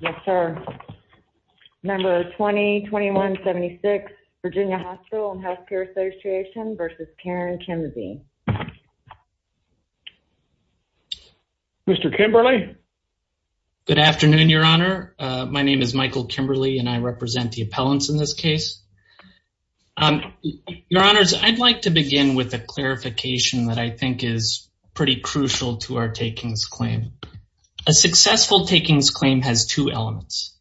Yes, sir. Number 20-21-76, Virginia Hospital & Healthcare Association v. Karen Kimsey. Mr. Kimberley? Good afternoon, Your Honor. My name is Michael Kimberley and I represent the appellants in this case. Your Honors, I'd like to begin with a clarification that I think is pretty crucial to our takings claim. A successful takings claim has two elements.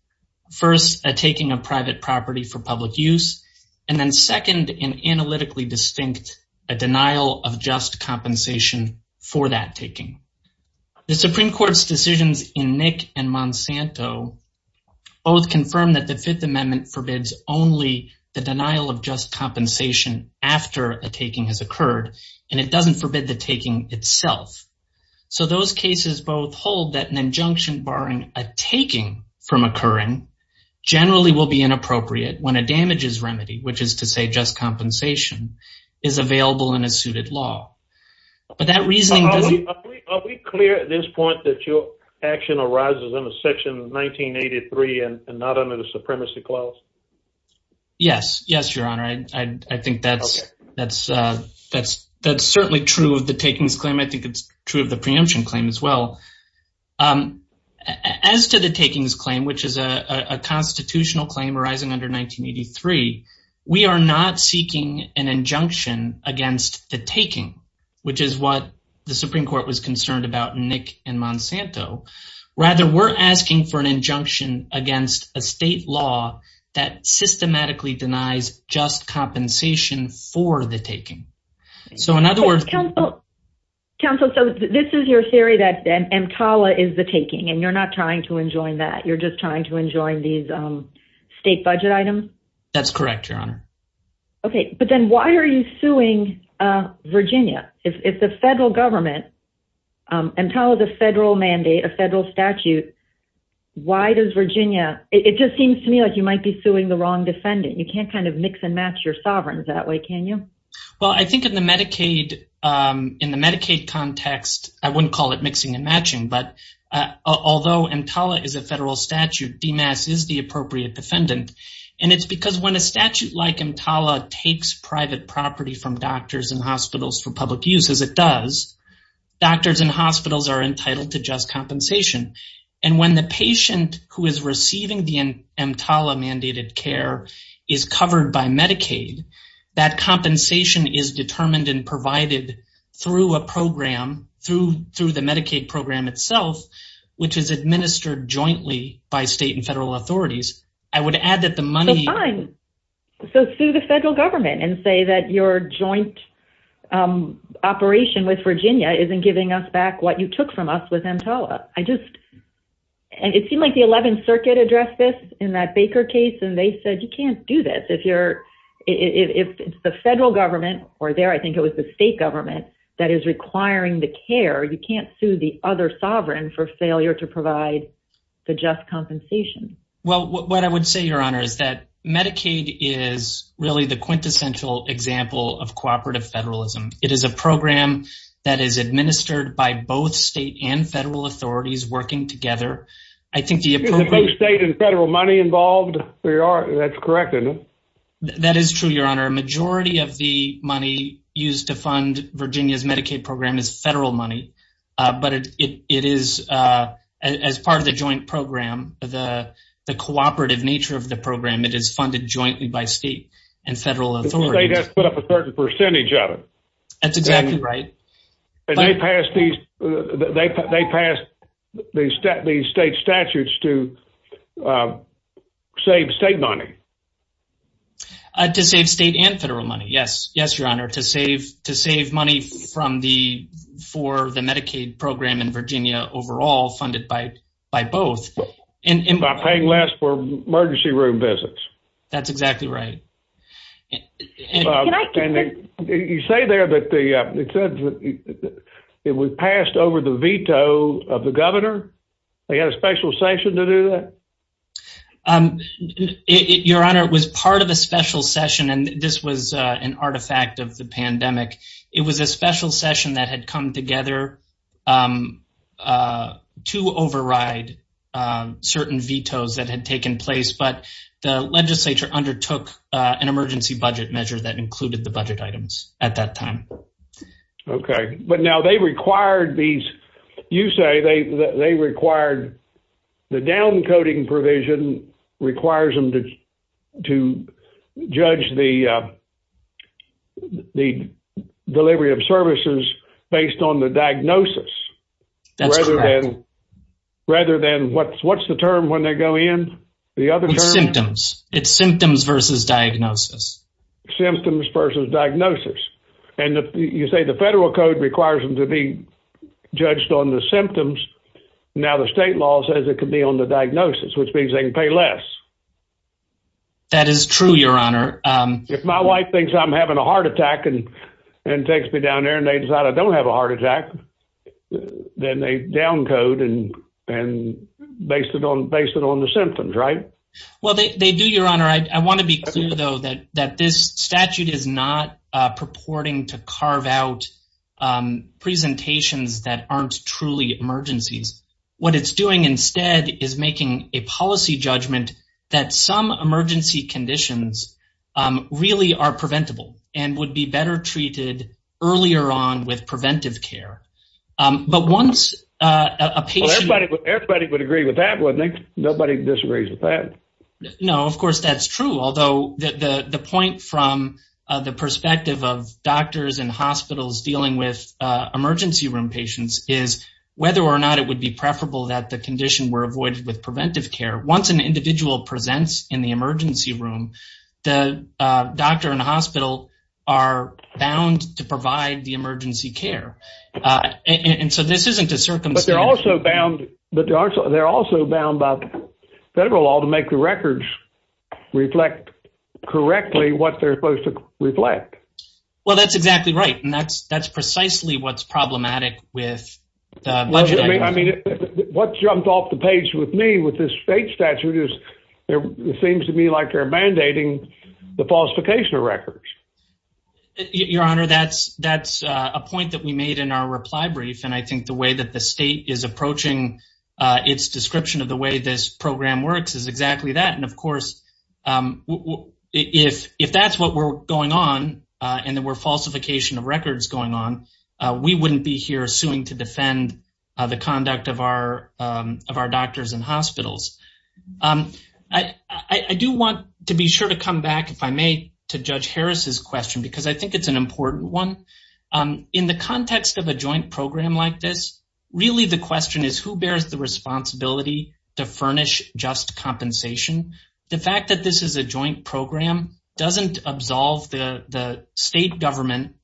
First, a taking of private property for public use, and then second, an analytically distinct denial of just compensation for that taking. The Supreme Court's decisions in Nick v. Monsanto both confirm that the Fifth Amendment forbids only the denial of just compensation after a taking has occurred, and it doesn't forbid the taking itself. So those cases both hold that an injunction barring a taking from occurring generally will be inappropriate when a damages remedy, which is to say just compensation, is available in a suited law. Are we clear at this point that your action arises under Section 1983 and not under the Supremacy Clause? Yes, Your Honor. I think that's certainly true of the takings claim. I think it's true of the preemption claim as well. As to the takings claim, which is a constitutional claim arising under 1983, we are not seeking an injunction against the taking, which is what the Supreme Court was concerned about in Nick v. Monsanto. Rather, we're asking for an injunction against a state law that systematically denies just compensation for the taking. Counsel, this is your theory that EMTALA is the taking, and you're not trying to enjoin that. You're just trying to enjoin these state budget items? Okay. But then why are you suing Virginia? If the federal government, EMTALA is a federal mandate, a federal statute, why does Virginia – it just seems to me like you might be suing the wrong defendant. You can't kind of mix and match your sovereigns that way, can you? Well, I think in the Medicaid context – I wouldn't call it mixing and matching, but although EMTALA is a federal statute, DMAS is the appropriate defendant. And it's because when a statute like EMTALA takes private property from doctors and hospitals for public use, as it does, doctors and hospitals are entitled to just compensation. And when the patient who is receiving the EMTALA-mandated care is covered by Medicaid, that compensation is determined and provided through a program, through the Medicaid program itself, which is administered jointly by state and federal authorities. So fine. So sue the federal government and say that your joint operation with Virginia isn't giving us back what you took from us with EMTALA. It seemed like the 11th Circuit addressed this in that Baker case, and they said you can't do this. If it's the federal government – or there I think it was the state government – that is requiring the care, you can't sue the other sovereign for failure to provide the just compensation. What I would say, Your Honor, is that Medicaid is really the quintessential example of cooperative federalism. It is a program that is administered by both state and federal authorities working together. Is both state and federal money involved? That's correct, isn't it? That is true, Your Honor. Majority of the money used to fund Virginia's Medicaid program is federal money, but it is, as part of the joint program, the cooperative nature of the program, it is funded jointly by state and federal authorities. The state has put up a certain percentage of it. That's exactly right. And they passed these state statutes to save state money. To save state and federal money, yes, Your Honor. To save money for the Medicaid program in Virginia overall, funded by both. By paying less for emergency room visits. That's exactly right. You say there that it was passed over the veto of the governor? They had a special session to do that? Your Honor, it was part of a special session, and this was an artifact of the pandemic. It was a special session that had come together to override certain vetoes that had taken place, but the legislature undertook an emergency budget measure that included the budget items at that time. Okay, but now they required these, you say they required the down coding provision requires them to judge the delivery of services based on the diagnosis. That's correct. Rather than, what's the term when they go in? The other term? It's symptoms. It's symptoms versus diagnosis. Symptoms versus diagnosis. And you say the federal code requires them to be judged on the symptoms. Now, the state law says it could be on the diagnosis, which means they can pay less. That is true, Your Honor. If my wife thinks I'm having a heart attack and takes me down there and they decide I don't have a heart attack, then they down code and base it on the symptoms, right? Well, they do, Your Honor. I want to be clear, though, that this statute is not purporting to carve out presentations that aren't truly emergencies. What it's doing instead is making a policy judgment that some emergency conditions really are preventable and would be better treated earlier on with preventive care. Everybody would agree with that, wouldn't they? Nobody disagrees with that. No, of course, that's true. Although, the point from the perspective of doctors and hospitals dealing with emergency room patients is whether or not it would be preferable that the condition were avoided with preventive care. Once an individual presents in the emergency room, the doctor and hospital are bound to provide the emergency care. And so this isn't a circumstance. But they're also bound by federal law to make the records reflect correctly what they're supposed to reflect. Well, that's exactly right. And that's precisely what's problematic with the budget. I mean, what jumped off the page with me with this state statute is it seems to me like they're mandating the falsification of records. Your Honor, that's a point that we made in our reply brief. And I think the way that the state is approaching its description of the way this program works is exactly that. And, of course, if that's what were going on and there were falsification of records going on, we wouldn't be here suing to defend the conduct of our doctors and hospitals. I do want to be sure to come back, if I may, to Judge Harris's question because I think it's an important one. In the context of a joint program like this, really the question is who bears the responsibility to furnish just compensation? The fact that this is a joint program doesn't absolve the state government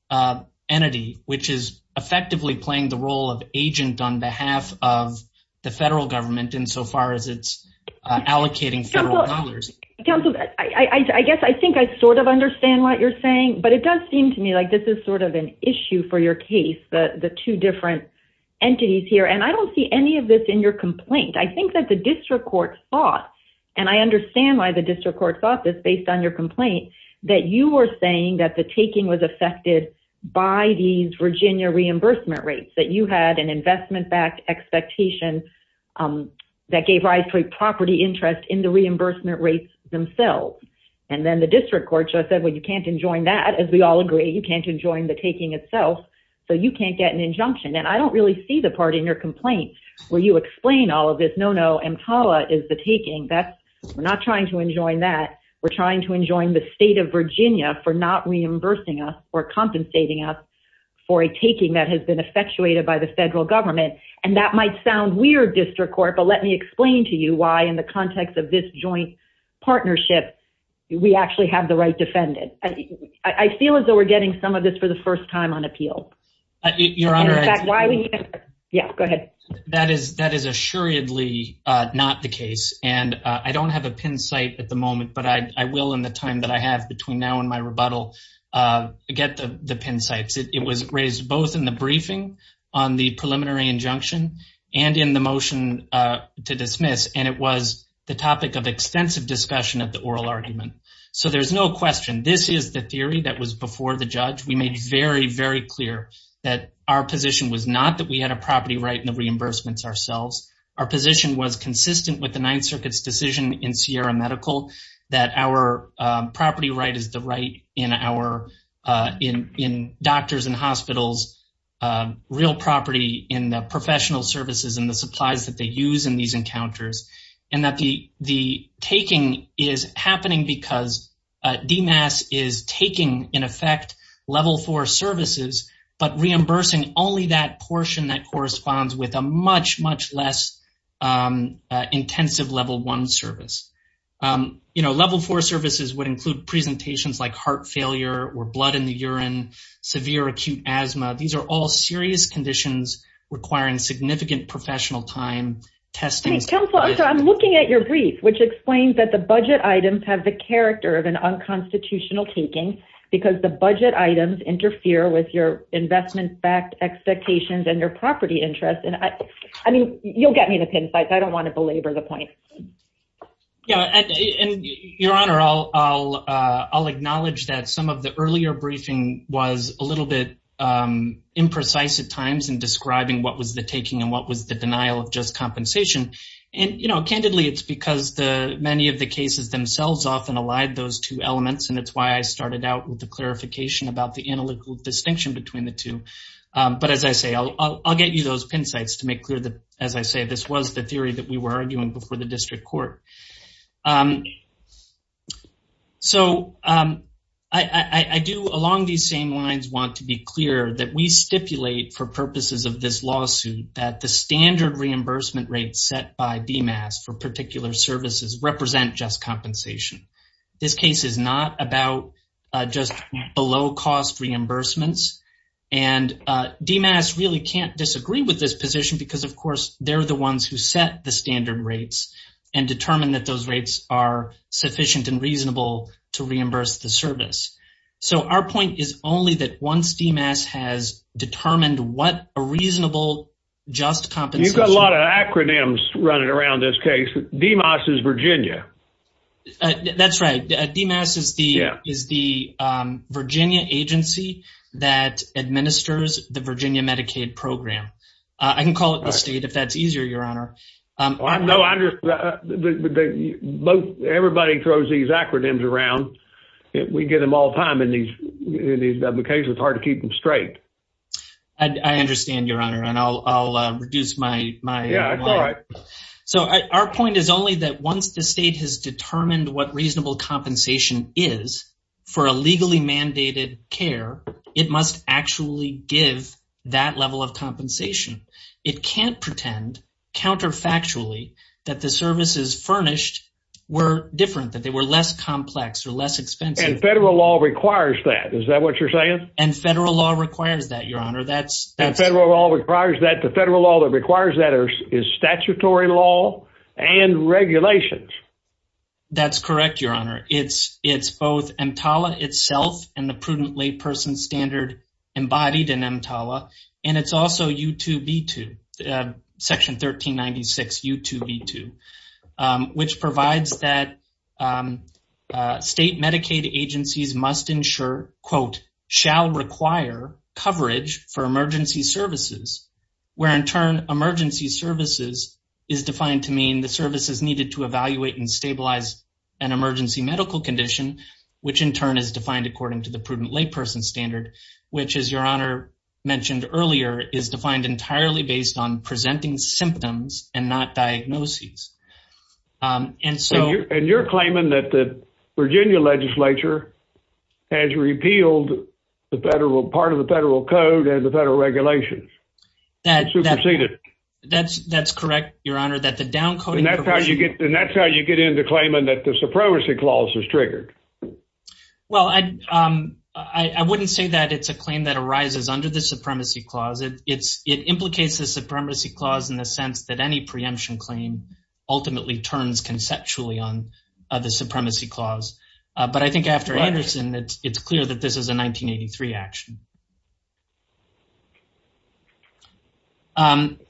entity, which is effectively playing the role of agent on behalf of the federal government insofar as it's allocating federal dollars. Counsel, I guess I think I sort of understand what you're saying, but it does seem to me like this is sort of an issue for your case, the two different entities here. And I don't see any of this in your complaint. I think that the district court thought, and I understand why the district court thought this based on your complaint, that you were saying that the taking was affected by these Virginia reimbursement rates. That you had an investment-backed expectation that gave rise to a property interest in the reimbursement rates themselves. And then the district court just said, well, you can't enjoin that, as we all agree, you can't enjoin the taking itself, so you can't get an injunction. And I don't really see the part in your complaint where you explain all of this, no, no, EMTALA is the taking. We're not trying to enjoin that, we're trying to enjoin the state of Virginia for not reimbursing us or compensating us for a taking that has been effectuated by the federal government. And that might sound weird, district court, but let me explain to you why, in the context of this joint partnership, we actually have the right defendant. I feel as though we're getting some of this for the first time on appeal. Your Honor, I… Yeah, go ahead. That is assuredly not the case, and I don't have a pin site at the moment, but I will in the time that I have between now and my rebuttal get the pin sites. It was raised both in the briefing on the preliminary injunction and in the motion to dismiss, and it was the topic of extensive discussion at the oral argument. So there's no question, this is the theory that was before the judge. We made very, very clear that our position was not that we had a property right in the reimbursements ourselves. Our position was consistent with the Ninth Circuit's decision in Sierra Medical that our property right is the right in our, in doctors and hospitals, real property in the professional services and the supplies that they use in these encounters. And that the taking is happening because DMAS is taking, in effect, level four services, but reimbursing only that portion that corresponds with a much, much less intensive level one service. You know, level four services would include presentations like heart failure or blood in the urine, severe acute asthma. These are all serious conditions requiring significant professional time, testing… Counsel, I'm sorry, I'm looking at your brief, which explains that the budget items have the character of an unconstitutional taking because the budget items interfere with your investment-backed expectations and your property interests. I mean, you'll get me the pin sites. I don't want to belabor the point. Yeah, and Your Honor, I'll acknowledge that some of the earlier briefing was a little bit imprecise at times in describing what was the taking and what was the denial of just compensation. And, you know, candidly, it's because many of the cases themselves often allied those two elements, and it's why I started out with the clarification about the analytical distinction between the two. But as I say, I'll get you those pin sites to make clear that, as I say, this was the theory that we were arguing before the district court. So I do, along these same lines, want to be clear that we stipulate for purposes of this lawsuit that the standard reimbursement rates set by DMAS for particular services represent just compensation. This case is not about just below-cost reimbursements, and DMAS really can't disagree with this position because, of course, they're the ones who set the standard rates and determine that those rates are sufficient and reasonable to reimburse the service. So our point is only that once DMAS has determined what a reasonable just compensation… You've got a lot of acronyms running around this case. DMAS is Virginia. That's right. DMAS is the Virginia agency that administers the Virginia Medicaid program. I can call it the state if that's easier, Your Honor. Everybody throws these acronyms around. We get them all the time in these cases. It's hard to keep them straight. I understand, Your Honor, and I'll reduce my… So our point is only that once the state has determined what reasonable compensation is for a legally mandated care, it must actually give that level of compensation. It can't pretend counterfactually that the services furnished were different, that they were less complex or less expensive. And federal law requires that. Is that what you're saying? And federal law requires that, Your Honor. And federal law requires that. The federal law that requires that is statutory law and regulations. That's correct, Your Honor. It's both EMTALA itself and the prudent layperson standard embodied in EMTALA, and it's also U2B2, Section 1396 U2B2, which provides that state Medicaid agencies must ensure, quote, shall require coverage for emergency services, where in turn emergency services is defined to mean the services needed to evaluate and stabilize an emergency medical condition, which in turn is defined according to the prudent layperson standard, which is, Your Honor, mentioned earlier, is defined entirely based on presenting symptoms and not diagnoses. And so… And you're claiming that the Virginia legislature has repealed part of the federal code and the federal regulations. That's… And superseded. That's correct, Your Honor, that the down-coding provision… And that's how you get into claiming that the Supervisory Clause was triggered. Well, I wouldn't say that it's a claim that arises under the Supremacy Clause. It implicates the Supremacy Clause in the sense that any preemption claim ultimately turns conceptually on the Supremacy Clause. But I think after Anderson, it's clear that this is a 1983 action. Let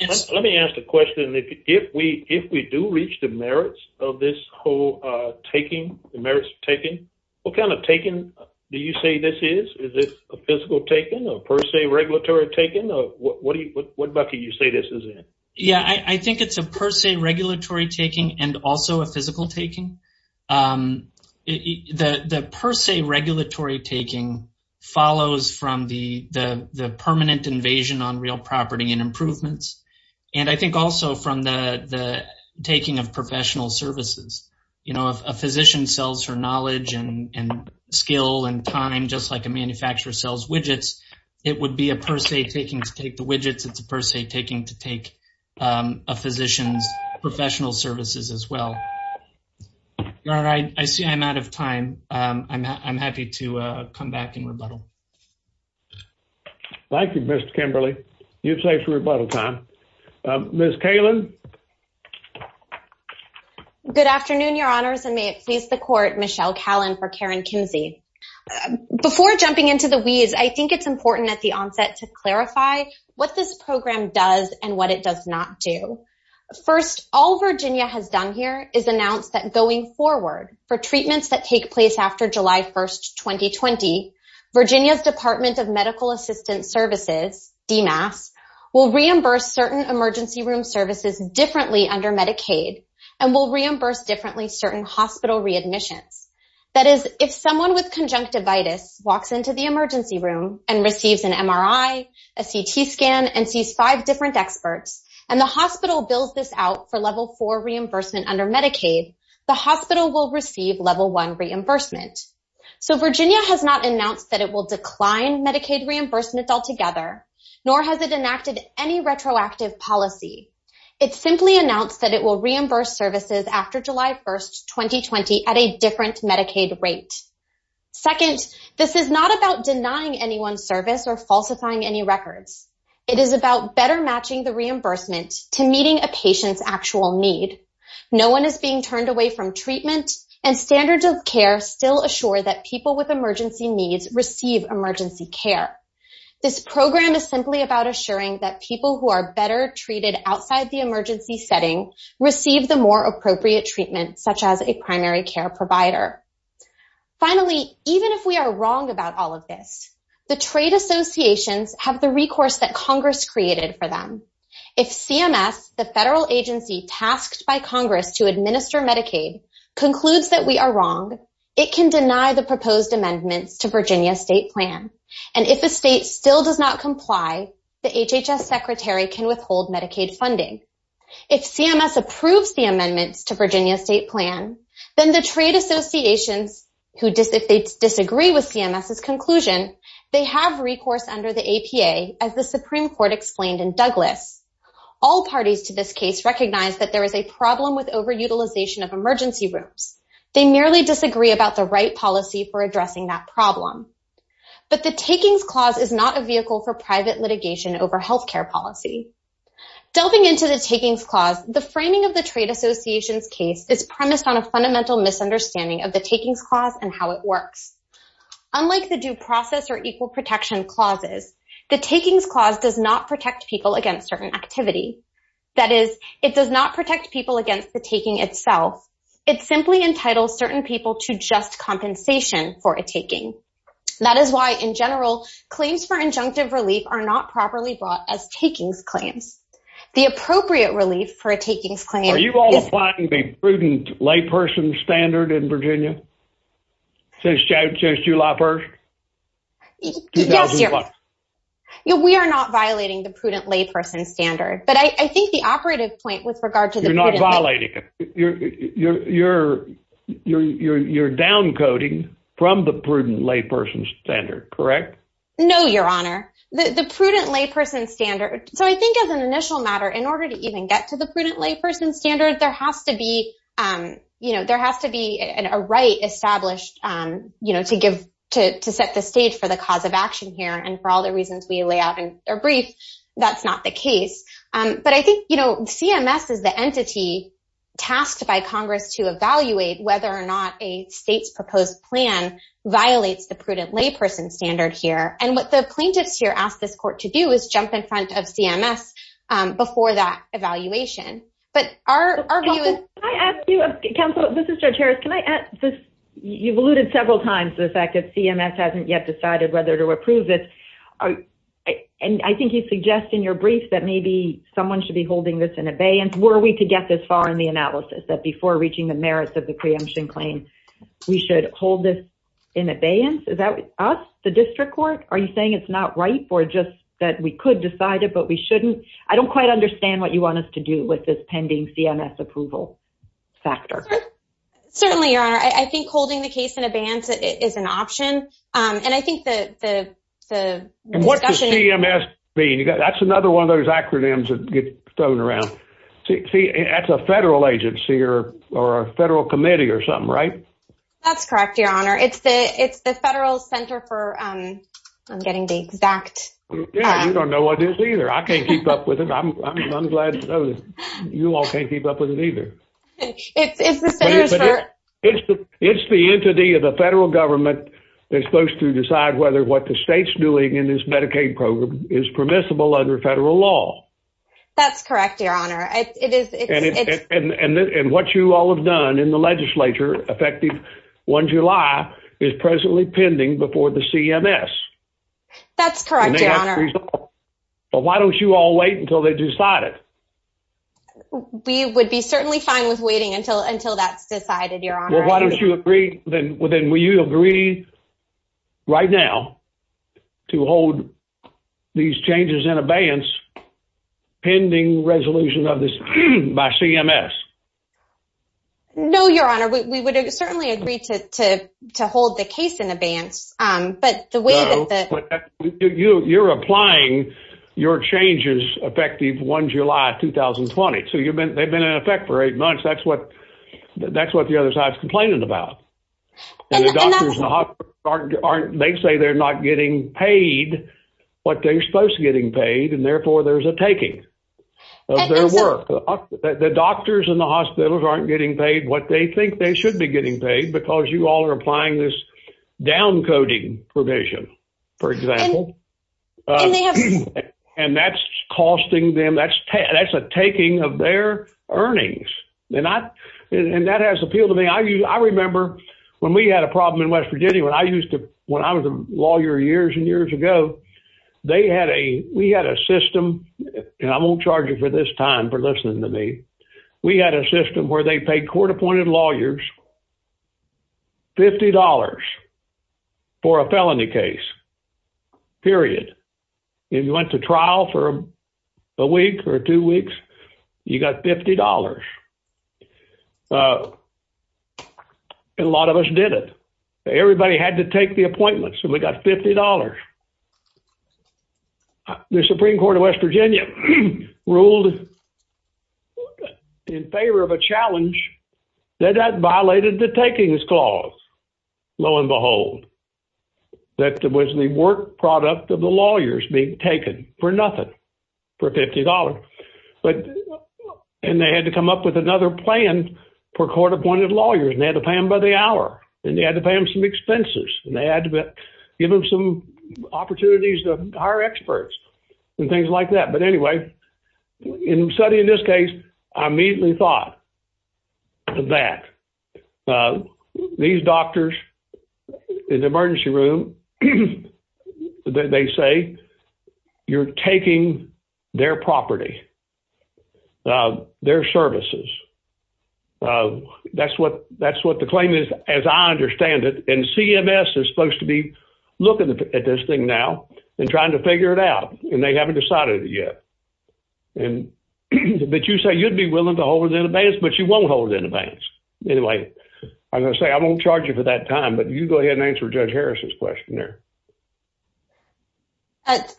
me ask a question. If we do reach the merits of this whole taking, the merits of taking, what kind of taking do you say this is? Is it a physical taking, a per se regulatory taking, or what bucket do you say this is in? Yeah, I think it's a per se regulatory taking and also a physical taking. The per se regulatory taking follows from the permanent invasion on real property and improvements, and I think also from the taking of professional services. You know, if a physician sells her knowledge and skill and time just like a manufacturer sells widgets, it would be a per se taking to take the widgets. It's a per se taking to take a physician's professional services as well. All right, I see I'm out of time. I'm happy to come back and rebuttal. Thank you, Mr. Kimberly. You've saved some rebuttal time. Ms. Kalin. Good afternoon, Your Honors, and may it please the Court, Michelle Kalin for Karen Kimsey. Before jumping into the wheeze, I think it's important at the onset to clarify what this program does and what it does not do. First, all Virginia has done here is announce that going forward for treatments that take place after July 1, 2020, Virginia's Department of Medical Assistance Services, DMAS, will reimburse certain emergency room services differently under Medicaid and will reimburse differently certain hospital readmissions. That is, if someone with conjunctivitis walks into the emergency room and receives an MRI, a CT scan, and sees five different experts, and the hospital bills this out for level four reimbursement under Medicaid, the hospital will receive level one reimbursement. So Virginia has not announced that it will decline Medicaid reimbursement altogether, nor has it enacted any retroactive policy. It simply announced that it will reimburse services after July 1, 2020, at a different Medicaid rate. Second, this is not about denying anyone service or falsifying any records. It is about better matching the reimbursement to meeting a patient's actual need. No one is being turned away from treatment, and standards of care still assure that people with emergency needs receive emergency care. This program is simply about assuring that people who are better treated outside the emergency setting receive the more appropriate treatment, such as a primary care provider. Finally, even if we are wrong about all of this, the trade associations have the recourse that Congress created for them. If CMS, the federal agency tasked by Congress to administer Medicaid, concludes that we are wrong, it can deny the proposed amendments to Virginia's state plan. And if a state still does not comply, the HHS Secretary can withhold Medicaid funding. If CMS approves the amendments to Virginia's state plan, then the trade associations, if they disagree with CMS's conclusion, they have recourse under the APA, as the Supreme Court explained in Douglas. All parties to this case recognize that there is a problem with over-utilization of emergency rooms. They merely disagree about the right policy for addressing that problem. But the takings clause is not a vehicle for private litigation over health care policy. Delving into the takings clause, the framing of the trade association's case is premised on a fundamental misunderstanding of the takings clause and how it works. Unlike the due process or equal protection clauses, the takings clause does not protect people against certain activity. That is, it does not protect people against the taking itself. It simply entitles certain people to just compensation for a taking. That is why, in general, claims for injunctive relief are not properly brought as takings claims. The appropriate relief for a takings claim... Are you all applying the prudent layperson standard in Virginia? Since July 1st? Yes. We are not violating the prudent layperson standard. But I think the operative point with regard to the... You're not violating it. You're downcoding from the prudent layperson standard, correct? No, Your Honor. The prudent layperson standard... So I think as an initial matter, in order to even get to the prudent layperson standard, there has to be a right established to set the stage for the cause of action here. And for all the reasons we lay out in our brief, that's not the case. But I think CMS is the entity tasked by Congress to evaluate whether or not a state's proposed plan violates the prudent layperson standard here. And what the plaintiffs here ask this court to do is jump in front of CMS before that evaluation. But our view is... Counsel, this is Judge Harris. You've alluded several times to the fact that CMS hasn't yet decided whether to approve this. And I think you suggest in your brief that maybe someone should be holding this in abeyance. Were we to get this far in the analysis, that before reaching the merits of the preemption claim, we should hold this in abeyance? Is that us, the district court? Are you saying it's not right or just that we could decide it but we shouldn't? I don't quite understand what you want us to do with this pending CMS approval factor. Certainly, Your Honor. I think holding the case in abeyance is an option. And I think the discussion... And what does CMS mean? That's another one of those acronyms that get thrown around. See, that's a federal agency or a federal committee or something, right? That's correct, Your Honor. It's the Federal Center for... I'm getting the exact... Yeah, you don't know what it is either. I can't keep up with it. I'm glad to know that you all can't keep up with it either. It's the Centers for... It's the entity of the federal government that's supposed to decide whether what the state's doing in this Medicaid program is permissible under federal law. That's correct, Your Honor. And what you all have done in the legislature, effective 1 July, is presently pending before the CMS. That's correct, Your Honor. But why don't you all wait until they decide it? We would be certainly fine with waiting until that's decided, Your Honor. Well, why don't you agree... Then will you agree right now to hold these changes in abeyance pending resolution of this by CMS? No, Your Honor. We would certainly agree to hold the case in abeyance. But the way that the... You're applying your changes effective 1 July 2020. So they've been in effect for eight months. That's what the other side's complaining about. And the doctors and the hospitals aren't... They say they're not getting paid what they're supposed to getting paid, and therefore there's a taking of their work. The doctors and the hospitals aren't getting paid what they think they should be getting paid because you all are applying this downcoding provision, for example. And they have... And that's costing them... That's a taking of their earnings. And that has appealed to me. I remember when we had a problem in West Virginia when I used to... When I was a lawyer years and years ago, they had a... We had a system, and I won't charge you for this time for listening to me. We had a system where they paid court-appointed lawyers $50 for a felony case, period. And you went to trial for a week or two weeks, you got $50. And a lot of us did it. Everybody had to take the appointments, and we got $50. The Supreme Court of West Virginia ruled in favor of a challenge that that violated the takings clause. Lo and behold, that was the work product of the lawyers being taken for nothing, for $50. And they had to come up with another plan for court-appointed lawyers, and they had to pay them by the hour. And they had to pay them some expenses, and they had to give them some opportunities to hire experts and things like that. But anyway, in studying this case, I immediately thought that these doctors in the emergency room, they say you're taking their property, their services. That's what the claim is, as I understand it. And CMS is supposed to be looking at this thing now and trying to figure it out, and they haven't decided it yet. But you say you'd be willing to hold it in abeyance, but you won't hold it in abeyance. Anyway, I'm going to say I won't charge you for that time, but you go ahead and answer Judge Harris's question there.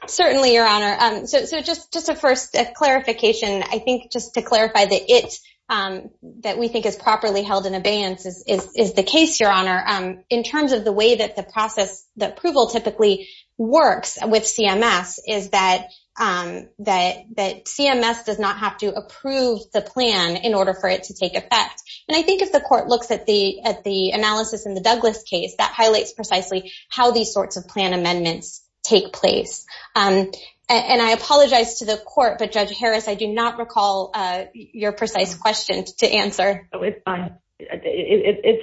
Certainly, Your Honor. So just a first clarification, I think just to clarify that it that we think is properly held in abeyance is the case, Your Honor. In terms of the way that the process, the approval typically works with CMS is that CMS does not have to approve the plan in order for it to take effect. And I think if the court looks at the analysis in the Douglas case, that highlights precisely how these sorts of plan amendments take place. And I apologize to the court, but Judge Harris, I do not recall your precise question to answer. It's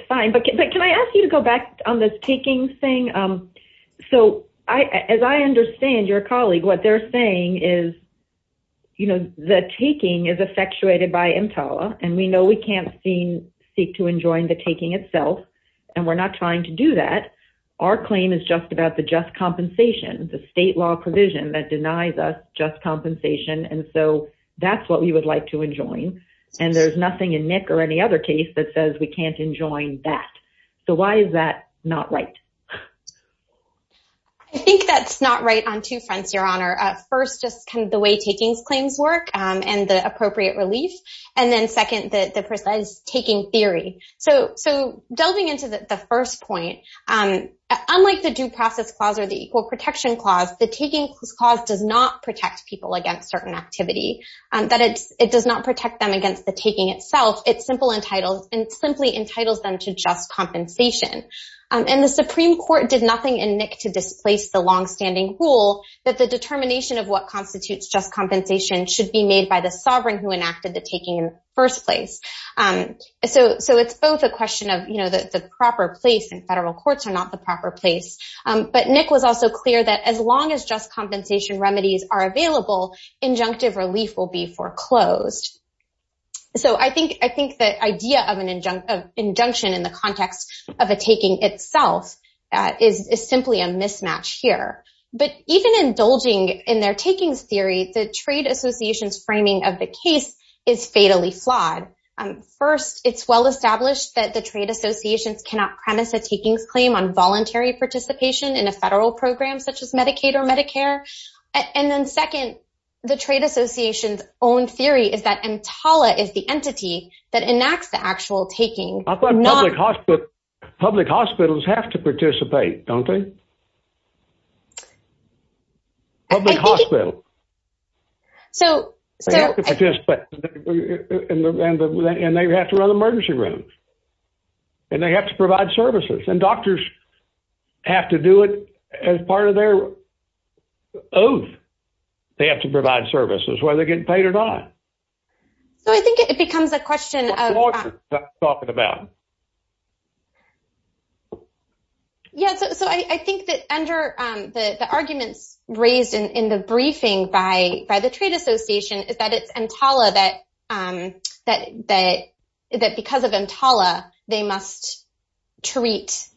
fine. But can I ask you to go back on this taking thing? So as I understand your colleague, what they're saying is, you know, the taking is effectuated by EMTALA, and we know we can't seek to enjoin the taking itself. And we're not trying to do that. Our claim is just about the just compensation, the state law provision that denies us just compensation. And so that's what we would like to enjoin. And there's nothing in Nick or any other case that says we can't enjoin that. So why is that not right? I think that's not right on two fronts, Your Honor. First, just kind of the way takings claims work and the appropriate relief. And then second, the precise taking theory. So delving into the first point, unlike the Due Process Clause or the Equal Protection Clause, the Taking Clause does not protect people against certain activity. It does not protect them against the taking itself. It simply entitles them to just compensation. And the Supreme Court did nothing in Nick to displace the longstanding rule that the determination of what constitutes just compensation should be made by the sovereign who enacted the taking in the first place. So it's both a question of, you know, the proper place, and federal courts are not the proper place. But Nick was also clear that as long as just compensation remedies are available, injunctive relief will be foreclosed. So I think the idea of an injunction in the context of a taking itself is simply a mismatch here. But even indulging in their takings theory, the Trade Association's framing of the case is fatally flawed. First, it's well established that the Trade Associations cannot premise a takings claim on voluntary participation in a federal program such as Medicaid or Medicare. And then second, the Trade Association's own theory is that EMTALA is the entity that enacts the actual taking. I thought public hospitals have to participate, don't they? Public hospitals. They have to participate. And they have to run emergency rooms. And they have to provide services. And doctors have to do it as part of their oath. They have to provide services, whether they're getting paid or not. So I think it becomes a question of... What courts are talking about? Yeah, so I think that under the arguments raised in the briefing by the Trade Association is that it's EMTALA that because of EMTALA, they must treat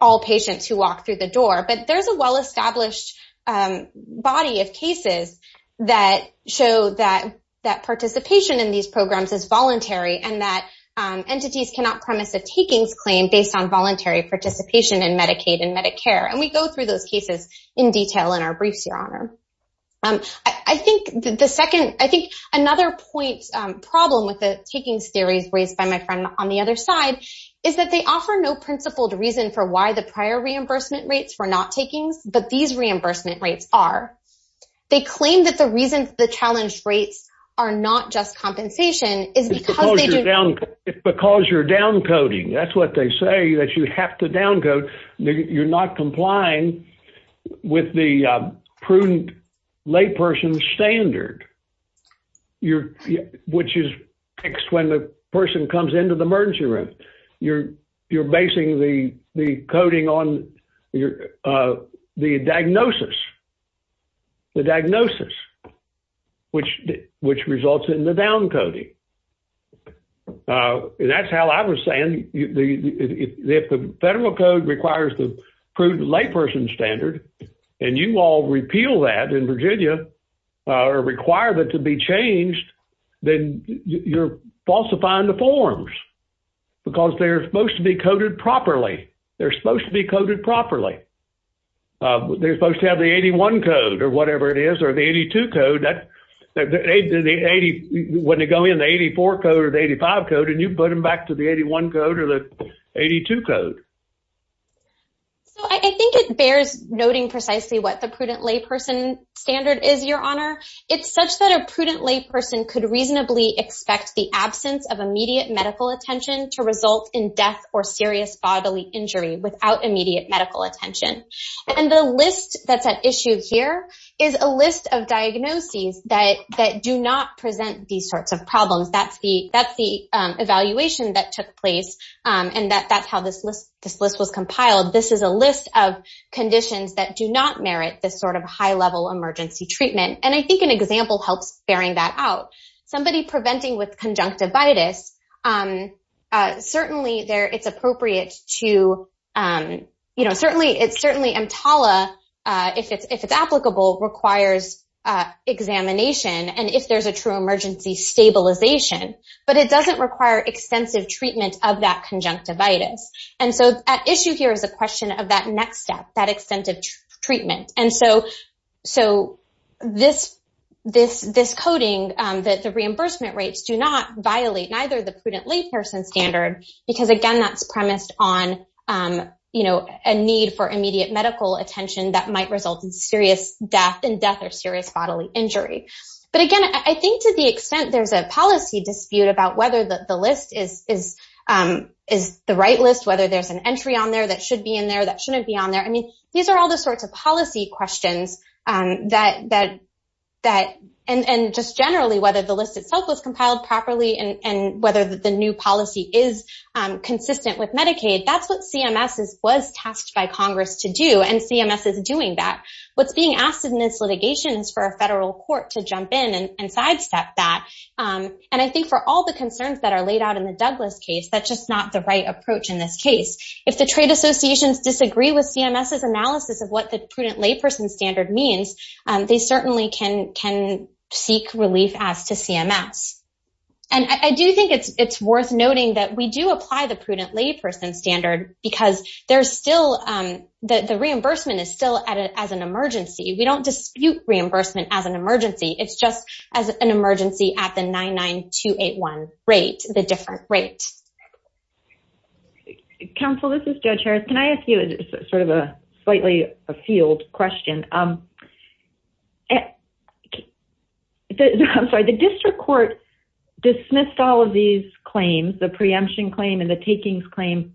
all patients who walk through the door. But there's a well-established body of cases that show that participation in these programs is voluntary and that entities cannot premise a takings claim based on voluntary participation in Medicaid and Medicare. And we go through those cases in detail in our briefs, Your Honor. I think the second... I think another point problem with the takings theories raised by my friend on the other side is that they offer no principled reason for why the prior reimbursement rates were not takings, but these reimbursement rates are. They claim that the reason the challenge rates are not just compensation is because they do... It's because you're downcoding. That's what they say, that you have to downcode. You're not complying with the prudent layperson standard, which is fixed when the person comes into the emergency room. You're basing the coding on the diagnosis, the diagnosis, which results in the downcoding. That's how I was saying, if the federal code requires the prudent layperson standard, and you all repeal that in Virginia or require that to be changed, then you're falsifying the forms. Because they're supposed to be coded properly. They're supposed to be coded properly. They're supposed to have the 81 code or whatever it is, or the 82 code. When they go in, the 84 code or the 85 code, and you put them back to the 81 code or the 82 code. I think it bears noting precisely what the prudent layperson standard is, Your Honor. It's such that a prudent layperson could reasonably expect the absence of immediate medical attention to result in death or serious bodily injury without immediate medical attention. The list that's at issue here is a list of diagnoses that do not present these sorts of problems. That's the evaluation that took place, and that's how this list was compiled. This is a list of conditions that do not merit this sort of high-level emergency treatment. I think an example helps bearing that out. Somebody preventing with conjunctivitis, certainly EMTALA, if it's applicable, requires examination, and if there's a true emergency, stabilization. But it doesn't require extensive treatment of that conjunctivitis. At issue here is a question of that next step, that extensive treatment. And so this coding, that the reimbursement rates do not violate neither the prudent layperson standard, because, again, that's premised on a need for immediate medical attention that might result in serious death and death or serious bodily injury. But, again, I think to the extent there's a policy dispute about whether the list is the right list, whether there's an entry on there that should be in there that shouldn't be on there. I mean, these are all the sorts of policy questions that, and just generally whether the list itself was compiled properly and whether the new policy is consistent with Medicaid. That's what CMS was tasked by Congress to do, and CMS is doing that. What's being asked in this litigation is for a federal court to jump in and sidestep that. And I think for all the concerns that are laid out in the Douglas case, that's just not the right approach in this case. If the trade associations disagree with CMS's analysis of what the prudent layperson standard means, they certainly can seek relief as to CMS. And I do think it's worth noting that we do apply the prudent layperson standard because there's still, the reimbursement is still as an emergency. We don't dispute reimbursement as an emergency. It's just as an emergency at the 99281 rate, the different rate. Counsel, this is Judge Harris. Can I ask you sort of a slightly a field question? I'm sorry, the district court dismissed all of these claims, the preemption claim and the takings claim,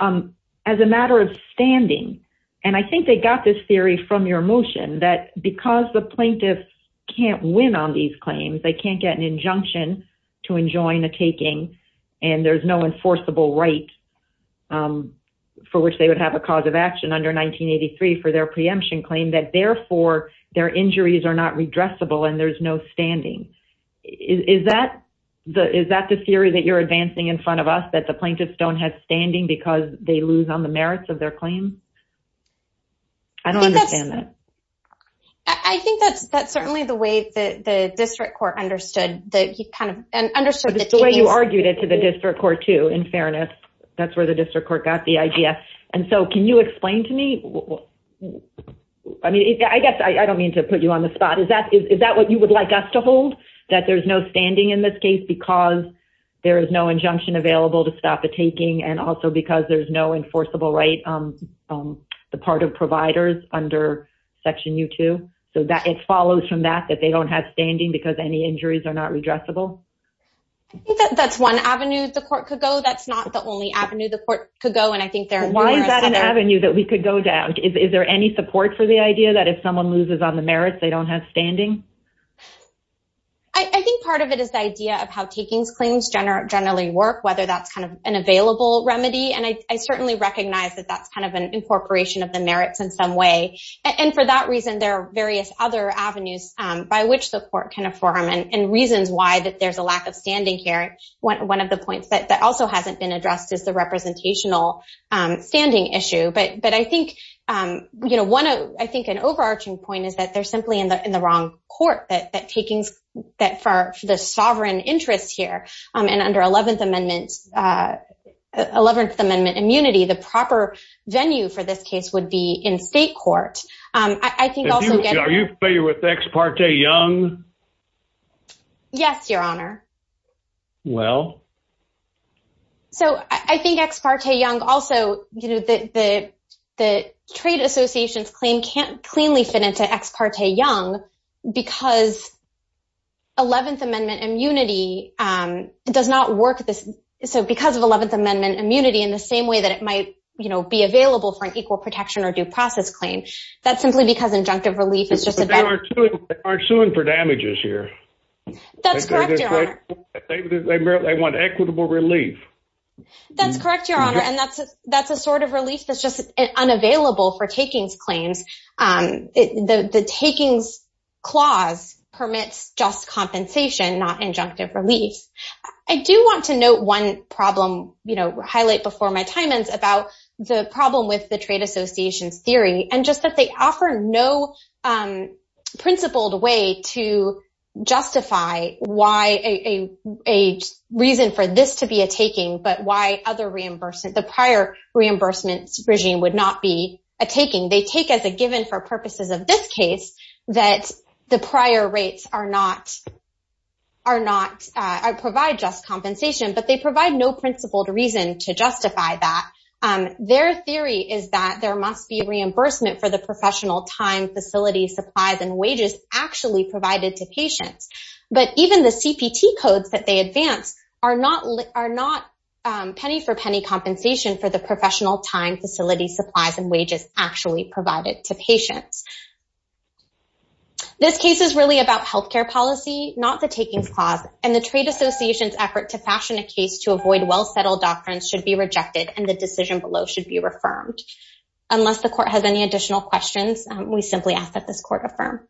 as a matter of standing. And I think they got this theory from your motion that because the plaintiffs can't win on these claims, they can't get an injunction to enjoin a taking. And there's no enforceable right for which they would have a cause of action under 1983 for their preemption claim. That therefore, their injuries are not redressable and there's no standing. Is that the theory that you're advancing in front of us? That the plaintiffs don't have standing because they lose on the merits of their claim? I don't understand that. I think that's certainly the way the district court understood. That's the way you argued it to the district court, too, in fairness. That's where the district court got the idea. And so can you explain to me? I mean, I guess I don't mean to put you on the spot. Is that what you would like us to hold? That there's no standing in this case because there is no injunction available to stop a taking and also because there's no enforceable right on the part of providers under Section U2? So it follows from that, that they don't have standing because any injuries are not redressable? I think that's one avenue the court could go. That's not the only avenue the court could go. And I think there are numerous other avenues. Why is that an avenue that we could go down? Is there any support for the idea that if someone loses on the merits, they don't have standing? I think part of it is the idea of how takings claims generally work, whether that's kind of an available remedy. And I certainly recognize that that's kind of an incorporation of the merits in some way. And for that reason, there are various other avenues by which the court can inform and reasons why that there's a lack of standing here. One of the points that also hasn't been addressed is the representational standing issue. But I think an overarching point is that they're simply in the wrong court. That for the sovereign interest here and under 11th Amendment immunity, the proper venue for this case would be in state court. Are you familiar with Ex parte Young? Yes, Your Honor. Well? So I think Ex parte Young also, you know, the trade association's claim can't cleanly fit into Ex parte Young because 11th Amendment immunity does not work. So because of 11th Amendment immunity in the same way that it might, you know, be available for an equal protection or due process claim, that's simply because injunctive relief is just a better. They aren't suing for damages here. That's correct, Your Honor. They want equitable relief. That's correct, Your Honor. And that's a sort of relief that's just unavailable for takings claims. The takings clause permits just compensation, not injunctive relief. I do want to note one problem, you know, highlight before my time ends about the problem with the trade association's theory and just that they offer no principled way to justify why a reason for this to be a taking, but why other reimbursement, the prior reimbursement regime would not be a taking. They take as a given for purposes of this case that the prior rates are not, provide just compensation, but they provide no principled reason to justify that. Their theory is that there must be reimbursement for the professional time, facilities, supplies, and wages actually provided to patients. But even the CPT codes that they advance are not penny for penny compensation for the professional time, facilities, supplies, and wages actually provided to patients. This case is really about health care policy, not the takings clause, and the trade association's effort to fashion a case to avoid well-settled doctrines should be rejected and the decision below should be reaffirmed. Unless the court has any additional questions, we simply ask that this court affirm.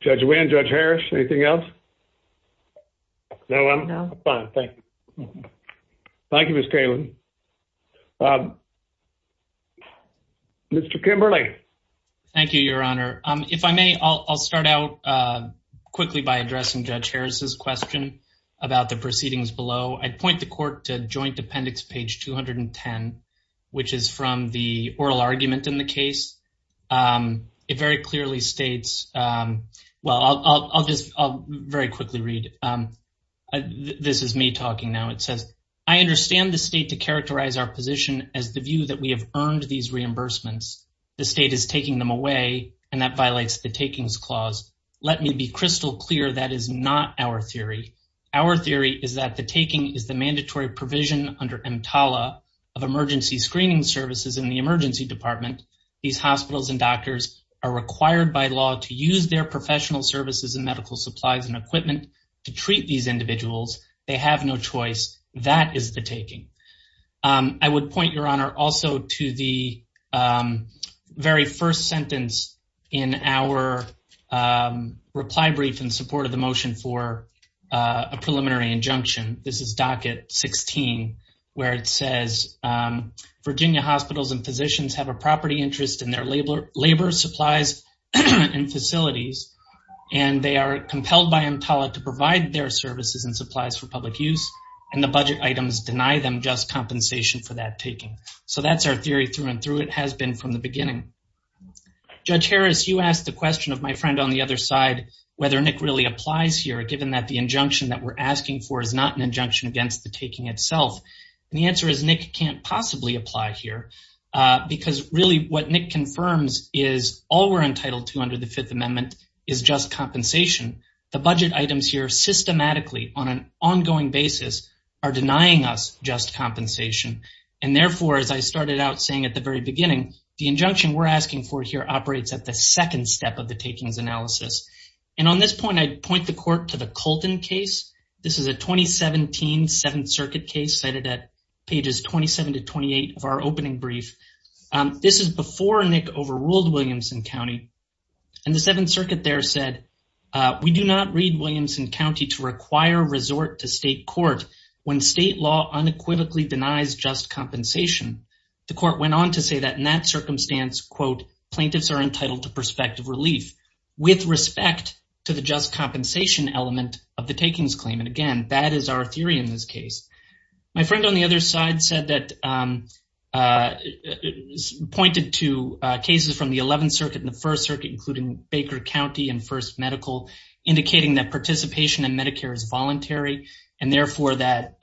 Judge Wynn, Judge Harris, anything else? No, I'm fine, thank you. Thank you, Ms. Kalin. Mr. Kimberly. Thank you, Your Honor. If I may, I'll start out quickly by addressing Judge Harris's question about the proceedings below. I point the court to joint appendix page 210, which is from the oral argument in the case. It very clearly states, well, I'll just very quickly read. This is me talking now. It says, I understand the state to characterize our position as the view that we have earned these reimbursements. The state is taking them away, and that violates the takings clause. Let me be crystal clear, that is not our theory. Our theory is that the taking is the mandatory provision under EMTALA of emergency screening services in the emergency department. These hospitals and doctors are required by law to use their professional services and medical supplies and equipment to treat these individuals. They have no choice. That is the taking. I would point, Your Honor, also to the very first sentence in our reply brief in support of the motion for a preliminary injunction. This is docket 16, where it says, Virginia hospitals and physicians have a property interest in their labor supplies and facilities. They are compelled by EMTALA to provide their services and supplies for public use, and the budget items deny them just compensation for that taking. That's our theory through and through. It has been from the beginning. Judge Harris, you asked the question of my friend on the other side, whether Nick really applies here, given that the injunction that we're asking for is not an injunction against the taking itself. The answer is Nick can't possibly apply here. Because really what Nick confirms is all we're entitled to under the Fifth Amendment is just compensation. The budget items here systematically on an ongoing basis are denying us just compensation. And therefore, as I started out saying at the very beginning, the injunction we're asking for here operates at the second step of the takings analysis. And on this point, I'd point the court to the Colton case. This is a 2017 Seventh Circuit case cited at pages 27 to 28 of our opening brief. This is before Nick overruled Williamson County. And the Seventh Circuit there said, we do not read Williamson County to require resort to state court when state law unequivocally denies just compensation. The court went on to say that in that circumstance, quote, plaintiffs are entitled to prospective relief with respect to the just compensation element of the takings claim. And again, that is our theory in this case. My friend on the other side said that, pointed to cases from the Eleventh Circuit and the First Circuit, including Baker County and First Medical, indicating that participation in Medicare is voluntary. And therefore, that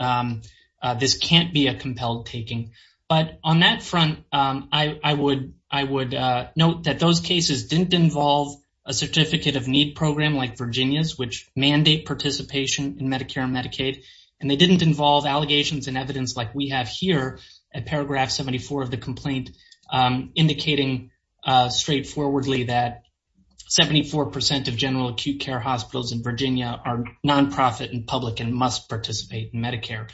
this can't be a compelled taking. But on that front, I would note that those cases didn't involve a certificate of need program like Virginia's, which mandate participation in Medicare and Medicaid. And they didn't involve allegations and evidence like we have here at paragraph 74 of the complaint, indicating straightforwardly that 74 percent of general acute care hospitals in Virginia are nonprofit and public and must participate in Medicare.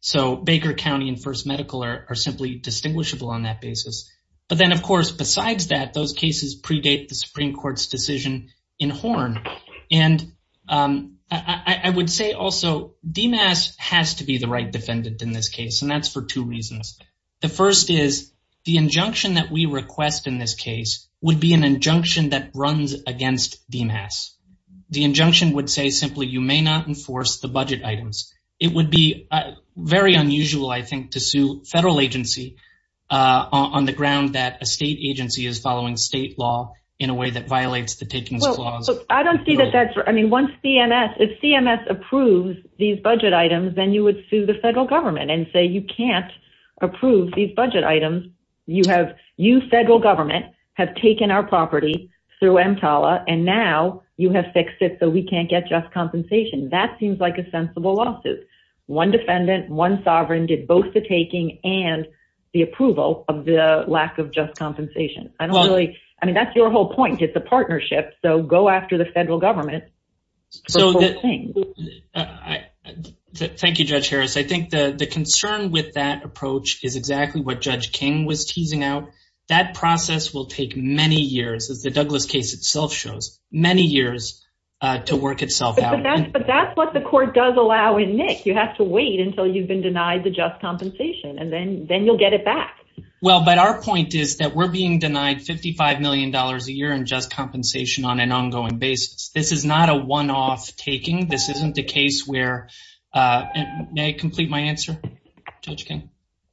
So Baker County and First Medical are simply distinguishable on that basis. But then, of course, besides that, those cases predate the Supreme Court's decision in Horn. And I would say also DMAS has to be the right defendant in this case, and that's for two reasons. The first is the injunction that we request in this case would be an injunction that runs against DMAS. The injunction would say simply you may not enforce the budget items. It would be very unusual, I think, to sue federal agency on the ground that a state agency is following state law in a way that violates the takings clause. I don't see that that's – I mean, once CMS – if CMS approves these budget items, then you would sue the federal government and say you can't approve these budget items. You have – you, federal government, have taken our property through EMTALA, and now you have fixed it so we can't get just compensation. That seems like a sensible lawsuit. One defendant, one sovereign did both the taking and the approval of the lack of just compensation. I don't really – I mean, that's your whole point. It's a partnership, so go after the federal government for both things. Thank you, Judge Harris. I think the concern with that approach is exactly what Judge King was teasing out. That process will take many years, as the Douglas case itself shows, many years to work itself out. But that's what the court does allow in NIC. You have to wait until you've been denied the just compensation, and then you'll get it back. Well, but our point is that we're being denied $55 million a year in just compensation on an ongoing basis. This is not a one-off taking. This isn't the case where – may I complete my answer, Judge King?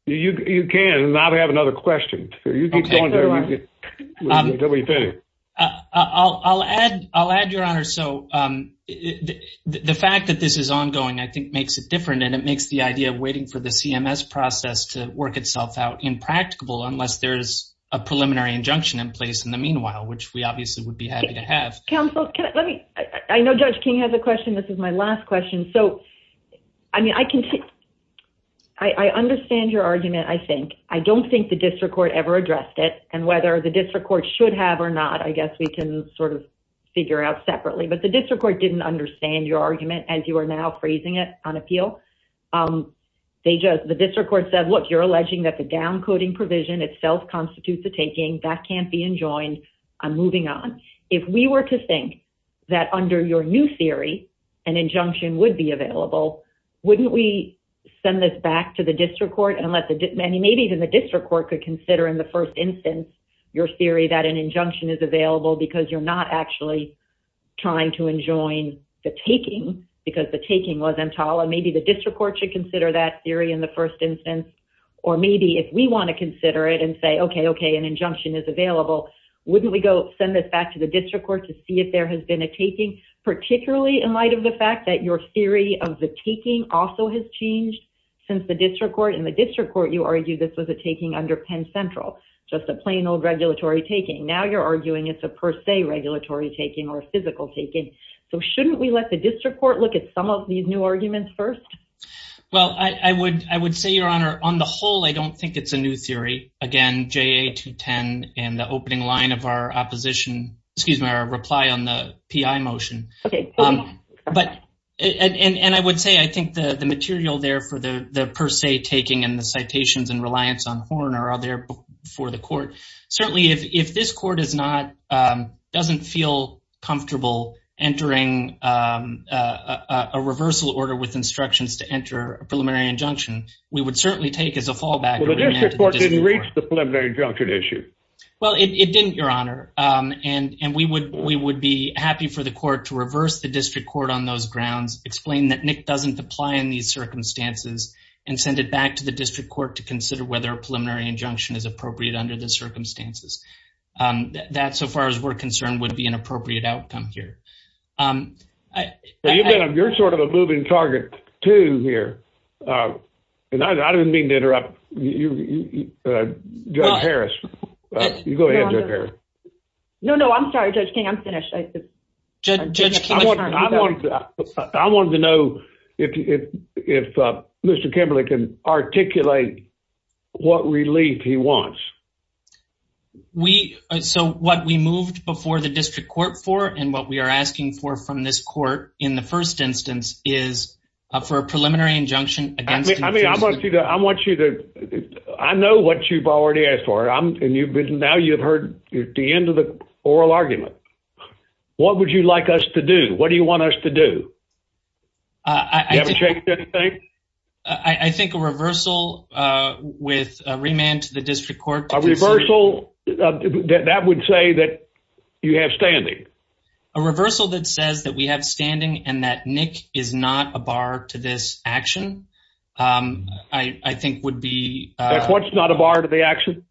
You can. Now we have another question. You keep going. I'll add, Your Honor. The fact that this is ongoing, I think, makes it different, and it makes the idea of waiting for the CMS process to work itself out impracticable, unless there's a preliminary injunction in place in the meanwhile, which we obviously would be happy to have. Counsel, can I – let me – I know Judge King has a question. This is my last question. So, I mean, I can – I understand your argument, I think. I don't think the district court ever addressed it, and whether the district court should have or not, I guess we can sort of figure out separately. But the district court didn't understand your argument, as you are now phrasing it on appeal. They just – the district court said, look, you're alleging that the downcoding provision itself constitutes a taking. That can't be enjoined. I'm moving on. If we were to think that under your new theory, an injunction would be available, wouldn't we send this back to the district court? Unless – I mean, maybe even the district court could consider in the first instance your theory that an injunction is available because you're not actually trying to enjoin the taking, because the taking wasn't tolerant. Maybe the district court should consider that theory in the first instance. Or maybe if we want to consider it and say, okay, okay, an injunction is available, wouldn't we go send this back to the district court to see if there has been a taking, particularly in light of the fact that your theory of the taking also has changed since the district court? You argue this was a taking under Penn Central, just a plain old regulatory taking. Now you're arguing it's a per se regulatory taking or a physical taking. So shouldn't we let the district court look at some of these new arguments first? Well, I would say, Your Honor, on the whole, I don't think it's a new theory. Again, JA-210 and the opening line of our opposition – excuse me, our reply on the PI motion. And I would say I think the material there for the per se taking and the citations and reliance on Horner are there for the court. Certainly if this court doesn't feel comfortable entering a reversal order with instructions to enter a preliminary injunction, we would certainly take as a fallback. But the district court didn't reach the preliminary injunction issue. Well, it didn't, Your Honor. And we would be happy for the court to reverse the district court on those grounds, explain that Nick doesn't apply in these circumstances, and send it back to the district court to consider whether a preliminary injunction is appropriate under the circumstances. That, so far as we're concerned, would be an appropriate outcome here. You're sort of a moving target, too, here. And I didn't mean to interrupt Judge Harris. You go ahead, Judge Harris. No, no, I'm sorry, Judge King. I'm finished. Judge King, let's turn it back. I wanted to know if Mr. Kimberley can articulate what relief he wants. We – so what we moved before the district court for and what we are asking for from this court in the first instance is for a preliminary injunction against – I mean, I want you to – I know what you've already asked for. And now you've heard the end of the oral argument. What would you like us to do? What do you want us to do? You haven't checked anything? I think a reversal with a remand to the district court. A reversal that would say that you have standing. A reversal that says that we have standing and that Nick is not a bar to this action, I think would be – That's what's not a bar to the action?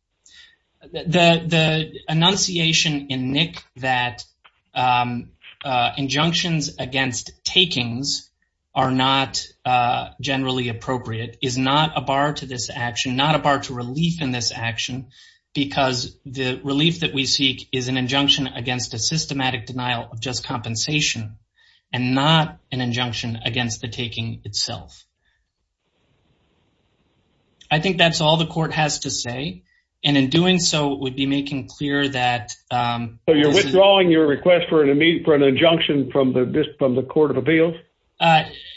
The enunciation in Nick that injunctions against takings are not generally appropriate is not a bar to this action, not a bar to relief in this action because the relief that we seek is an injunction against a systematic denial of just compensation and not an injunction against the taking itself. I think that's all the court has to say. And in doing so, it would be making clear that – So you're withdrawing your request for an injunction from the court of appeals?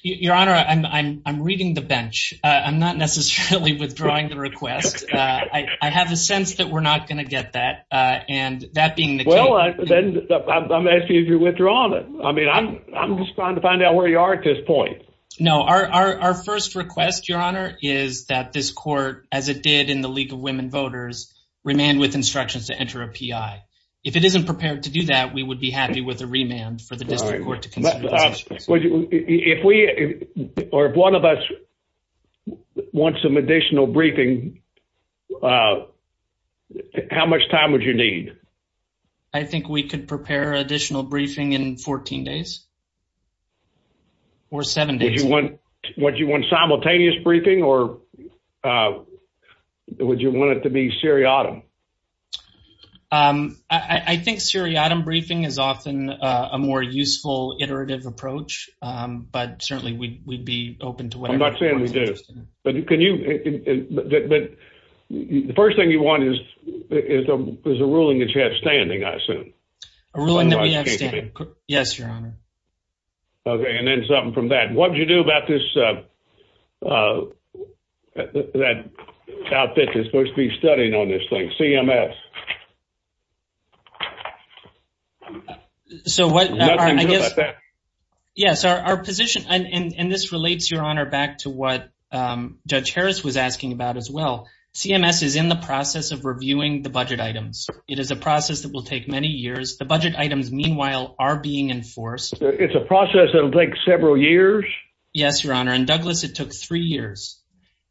Your Honor, I'm reading the bench. I'm not necessarily withdrawing the request. I have a sense that we're not going to get that. And that being the case – Well, then I'm asking if you're withdrawing it. I mean, I'm just trying to find out where you are at this point. No, our first request, Your Honor, is that this court, as it did in the League of Women Voters, remand with instructions to enter a P.I. If it isn't prepared to do that, we would be happy with a remand for the district court to consider. If one of us wants some additional briefing, how much time would you need? I think we could prepare additional briefing in 14 days. Or seven days. Would you want simultaneous briefing or would you want it to be seriatim? I think seriatim briefing is often a more useful, iterative approach. But certainly we'd be open to whatever – I'm not saying we do. But can you – The first thing you want is a ruling that you have standing, I assume. A ruling that we have standing. Yes, Your Honor. Okay, and then something from that. What would you do about this – that outfit that's supposed to be studied on this thing, CMS? So what – Yes, our position – And this relates, Your Honor, back to what Judge Harris was asking about as well. CMS is in the process of reviewing the budget items. It is a process that will take many years. The budget items, meanwhile, are being enforced. It's a process that will take several years? Yes, Your Honor. And, Douglas, it took three years.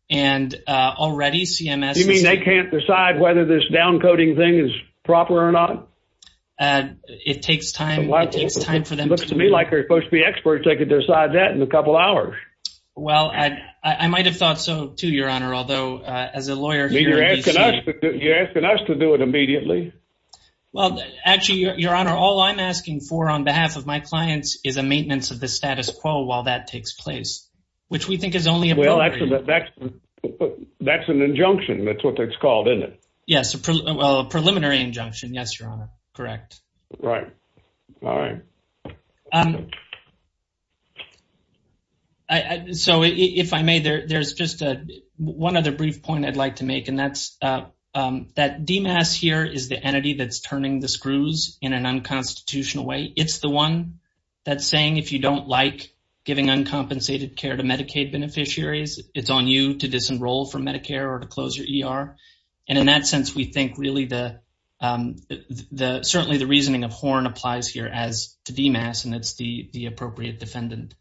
And already CMS – You mean they can't decide whether this downcoding thing is proper or not? It takes time. It looks to me like they're supposed to be experts. They could decide that in a couple hours. Well, I might have thought so too, Your Honor. Although, as a lawyer here at DC – You're asking us to do it immediately. Well, actually, Your Honor, all I'm asking for on behalf of my clients is a maintenance of the status quo while that takes place, which we think is only appropriate. Well, that's an injunction. That's what it's called, isn't it? Yes, a preliminary injunction. Yes, Your Honor. All right. So, if I may, there's just one other brief point I'd like to make, and that's that DMAS here is the entity that's turning the screws in an unconstitutional way. It's the one that's saying, if you don't like giving uncompensated care to Medicaid beneficiaries, it's on you to disenroll from Medicare or to close your ER. And in that sense, we think, really, certainly the reasoning of Horn applies here as to DMAS, and it's the appropriate defendant.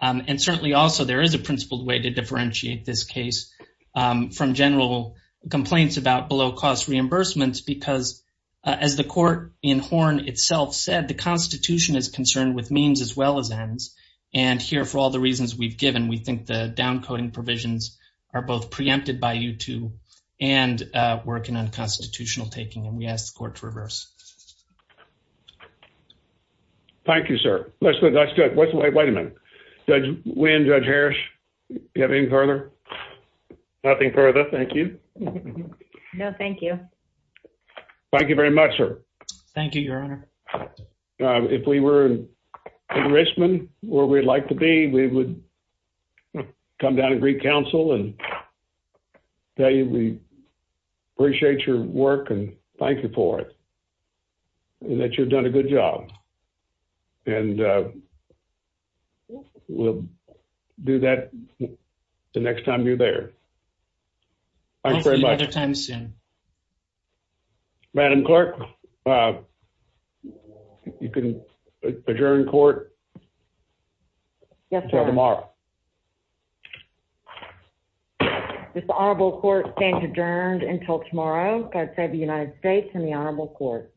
And certainly, also, there is a principled way to differentiate this case from general complaints about below-cost reimbursements because, as the court in Horn itself said, the Constitution is concerned with means as well as ends. And here, for all the reasons we've given, we think the downcoding provisions are both preempted by you and working on constitutional taking, and we ask the court to reverse. Thank you, sir. Wait a minute. Judge Wynn, Judge Harris, do you have anything further? Nothing further. Thank you. No, thank you. Thank you very much, sir. Thank you, Your Honor. If we were in Richmond, where we'd like to be, we would come down and greet counsel and tell you we appreciate your work and thank you for it, and that you've done a good job. And we'll do that the next time you're there. Thank you very much. We'll see you another time soon. Madam Clerk, you can adjourn court. Yes, sir. Until tomorrow. This honorable court stands adjourned until tomorrow. God save the United States and the honorable court.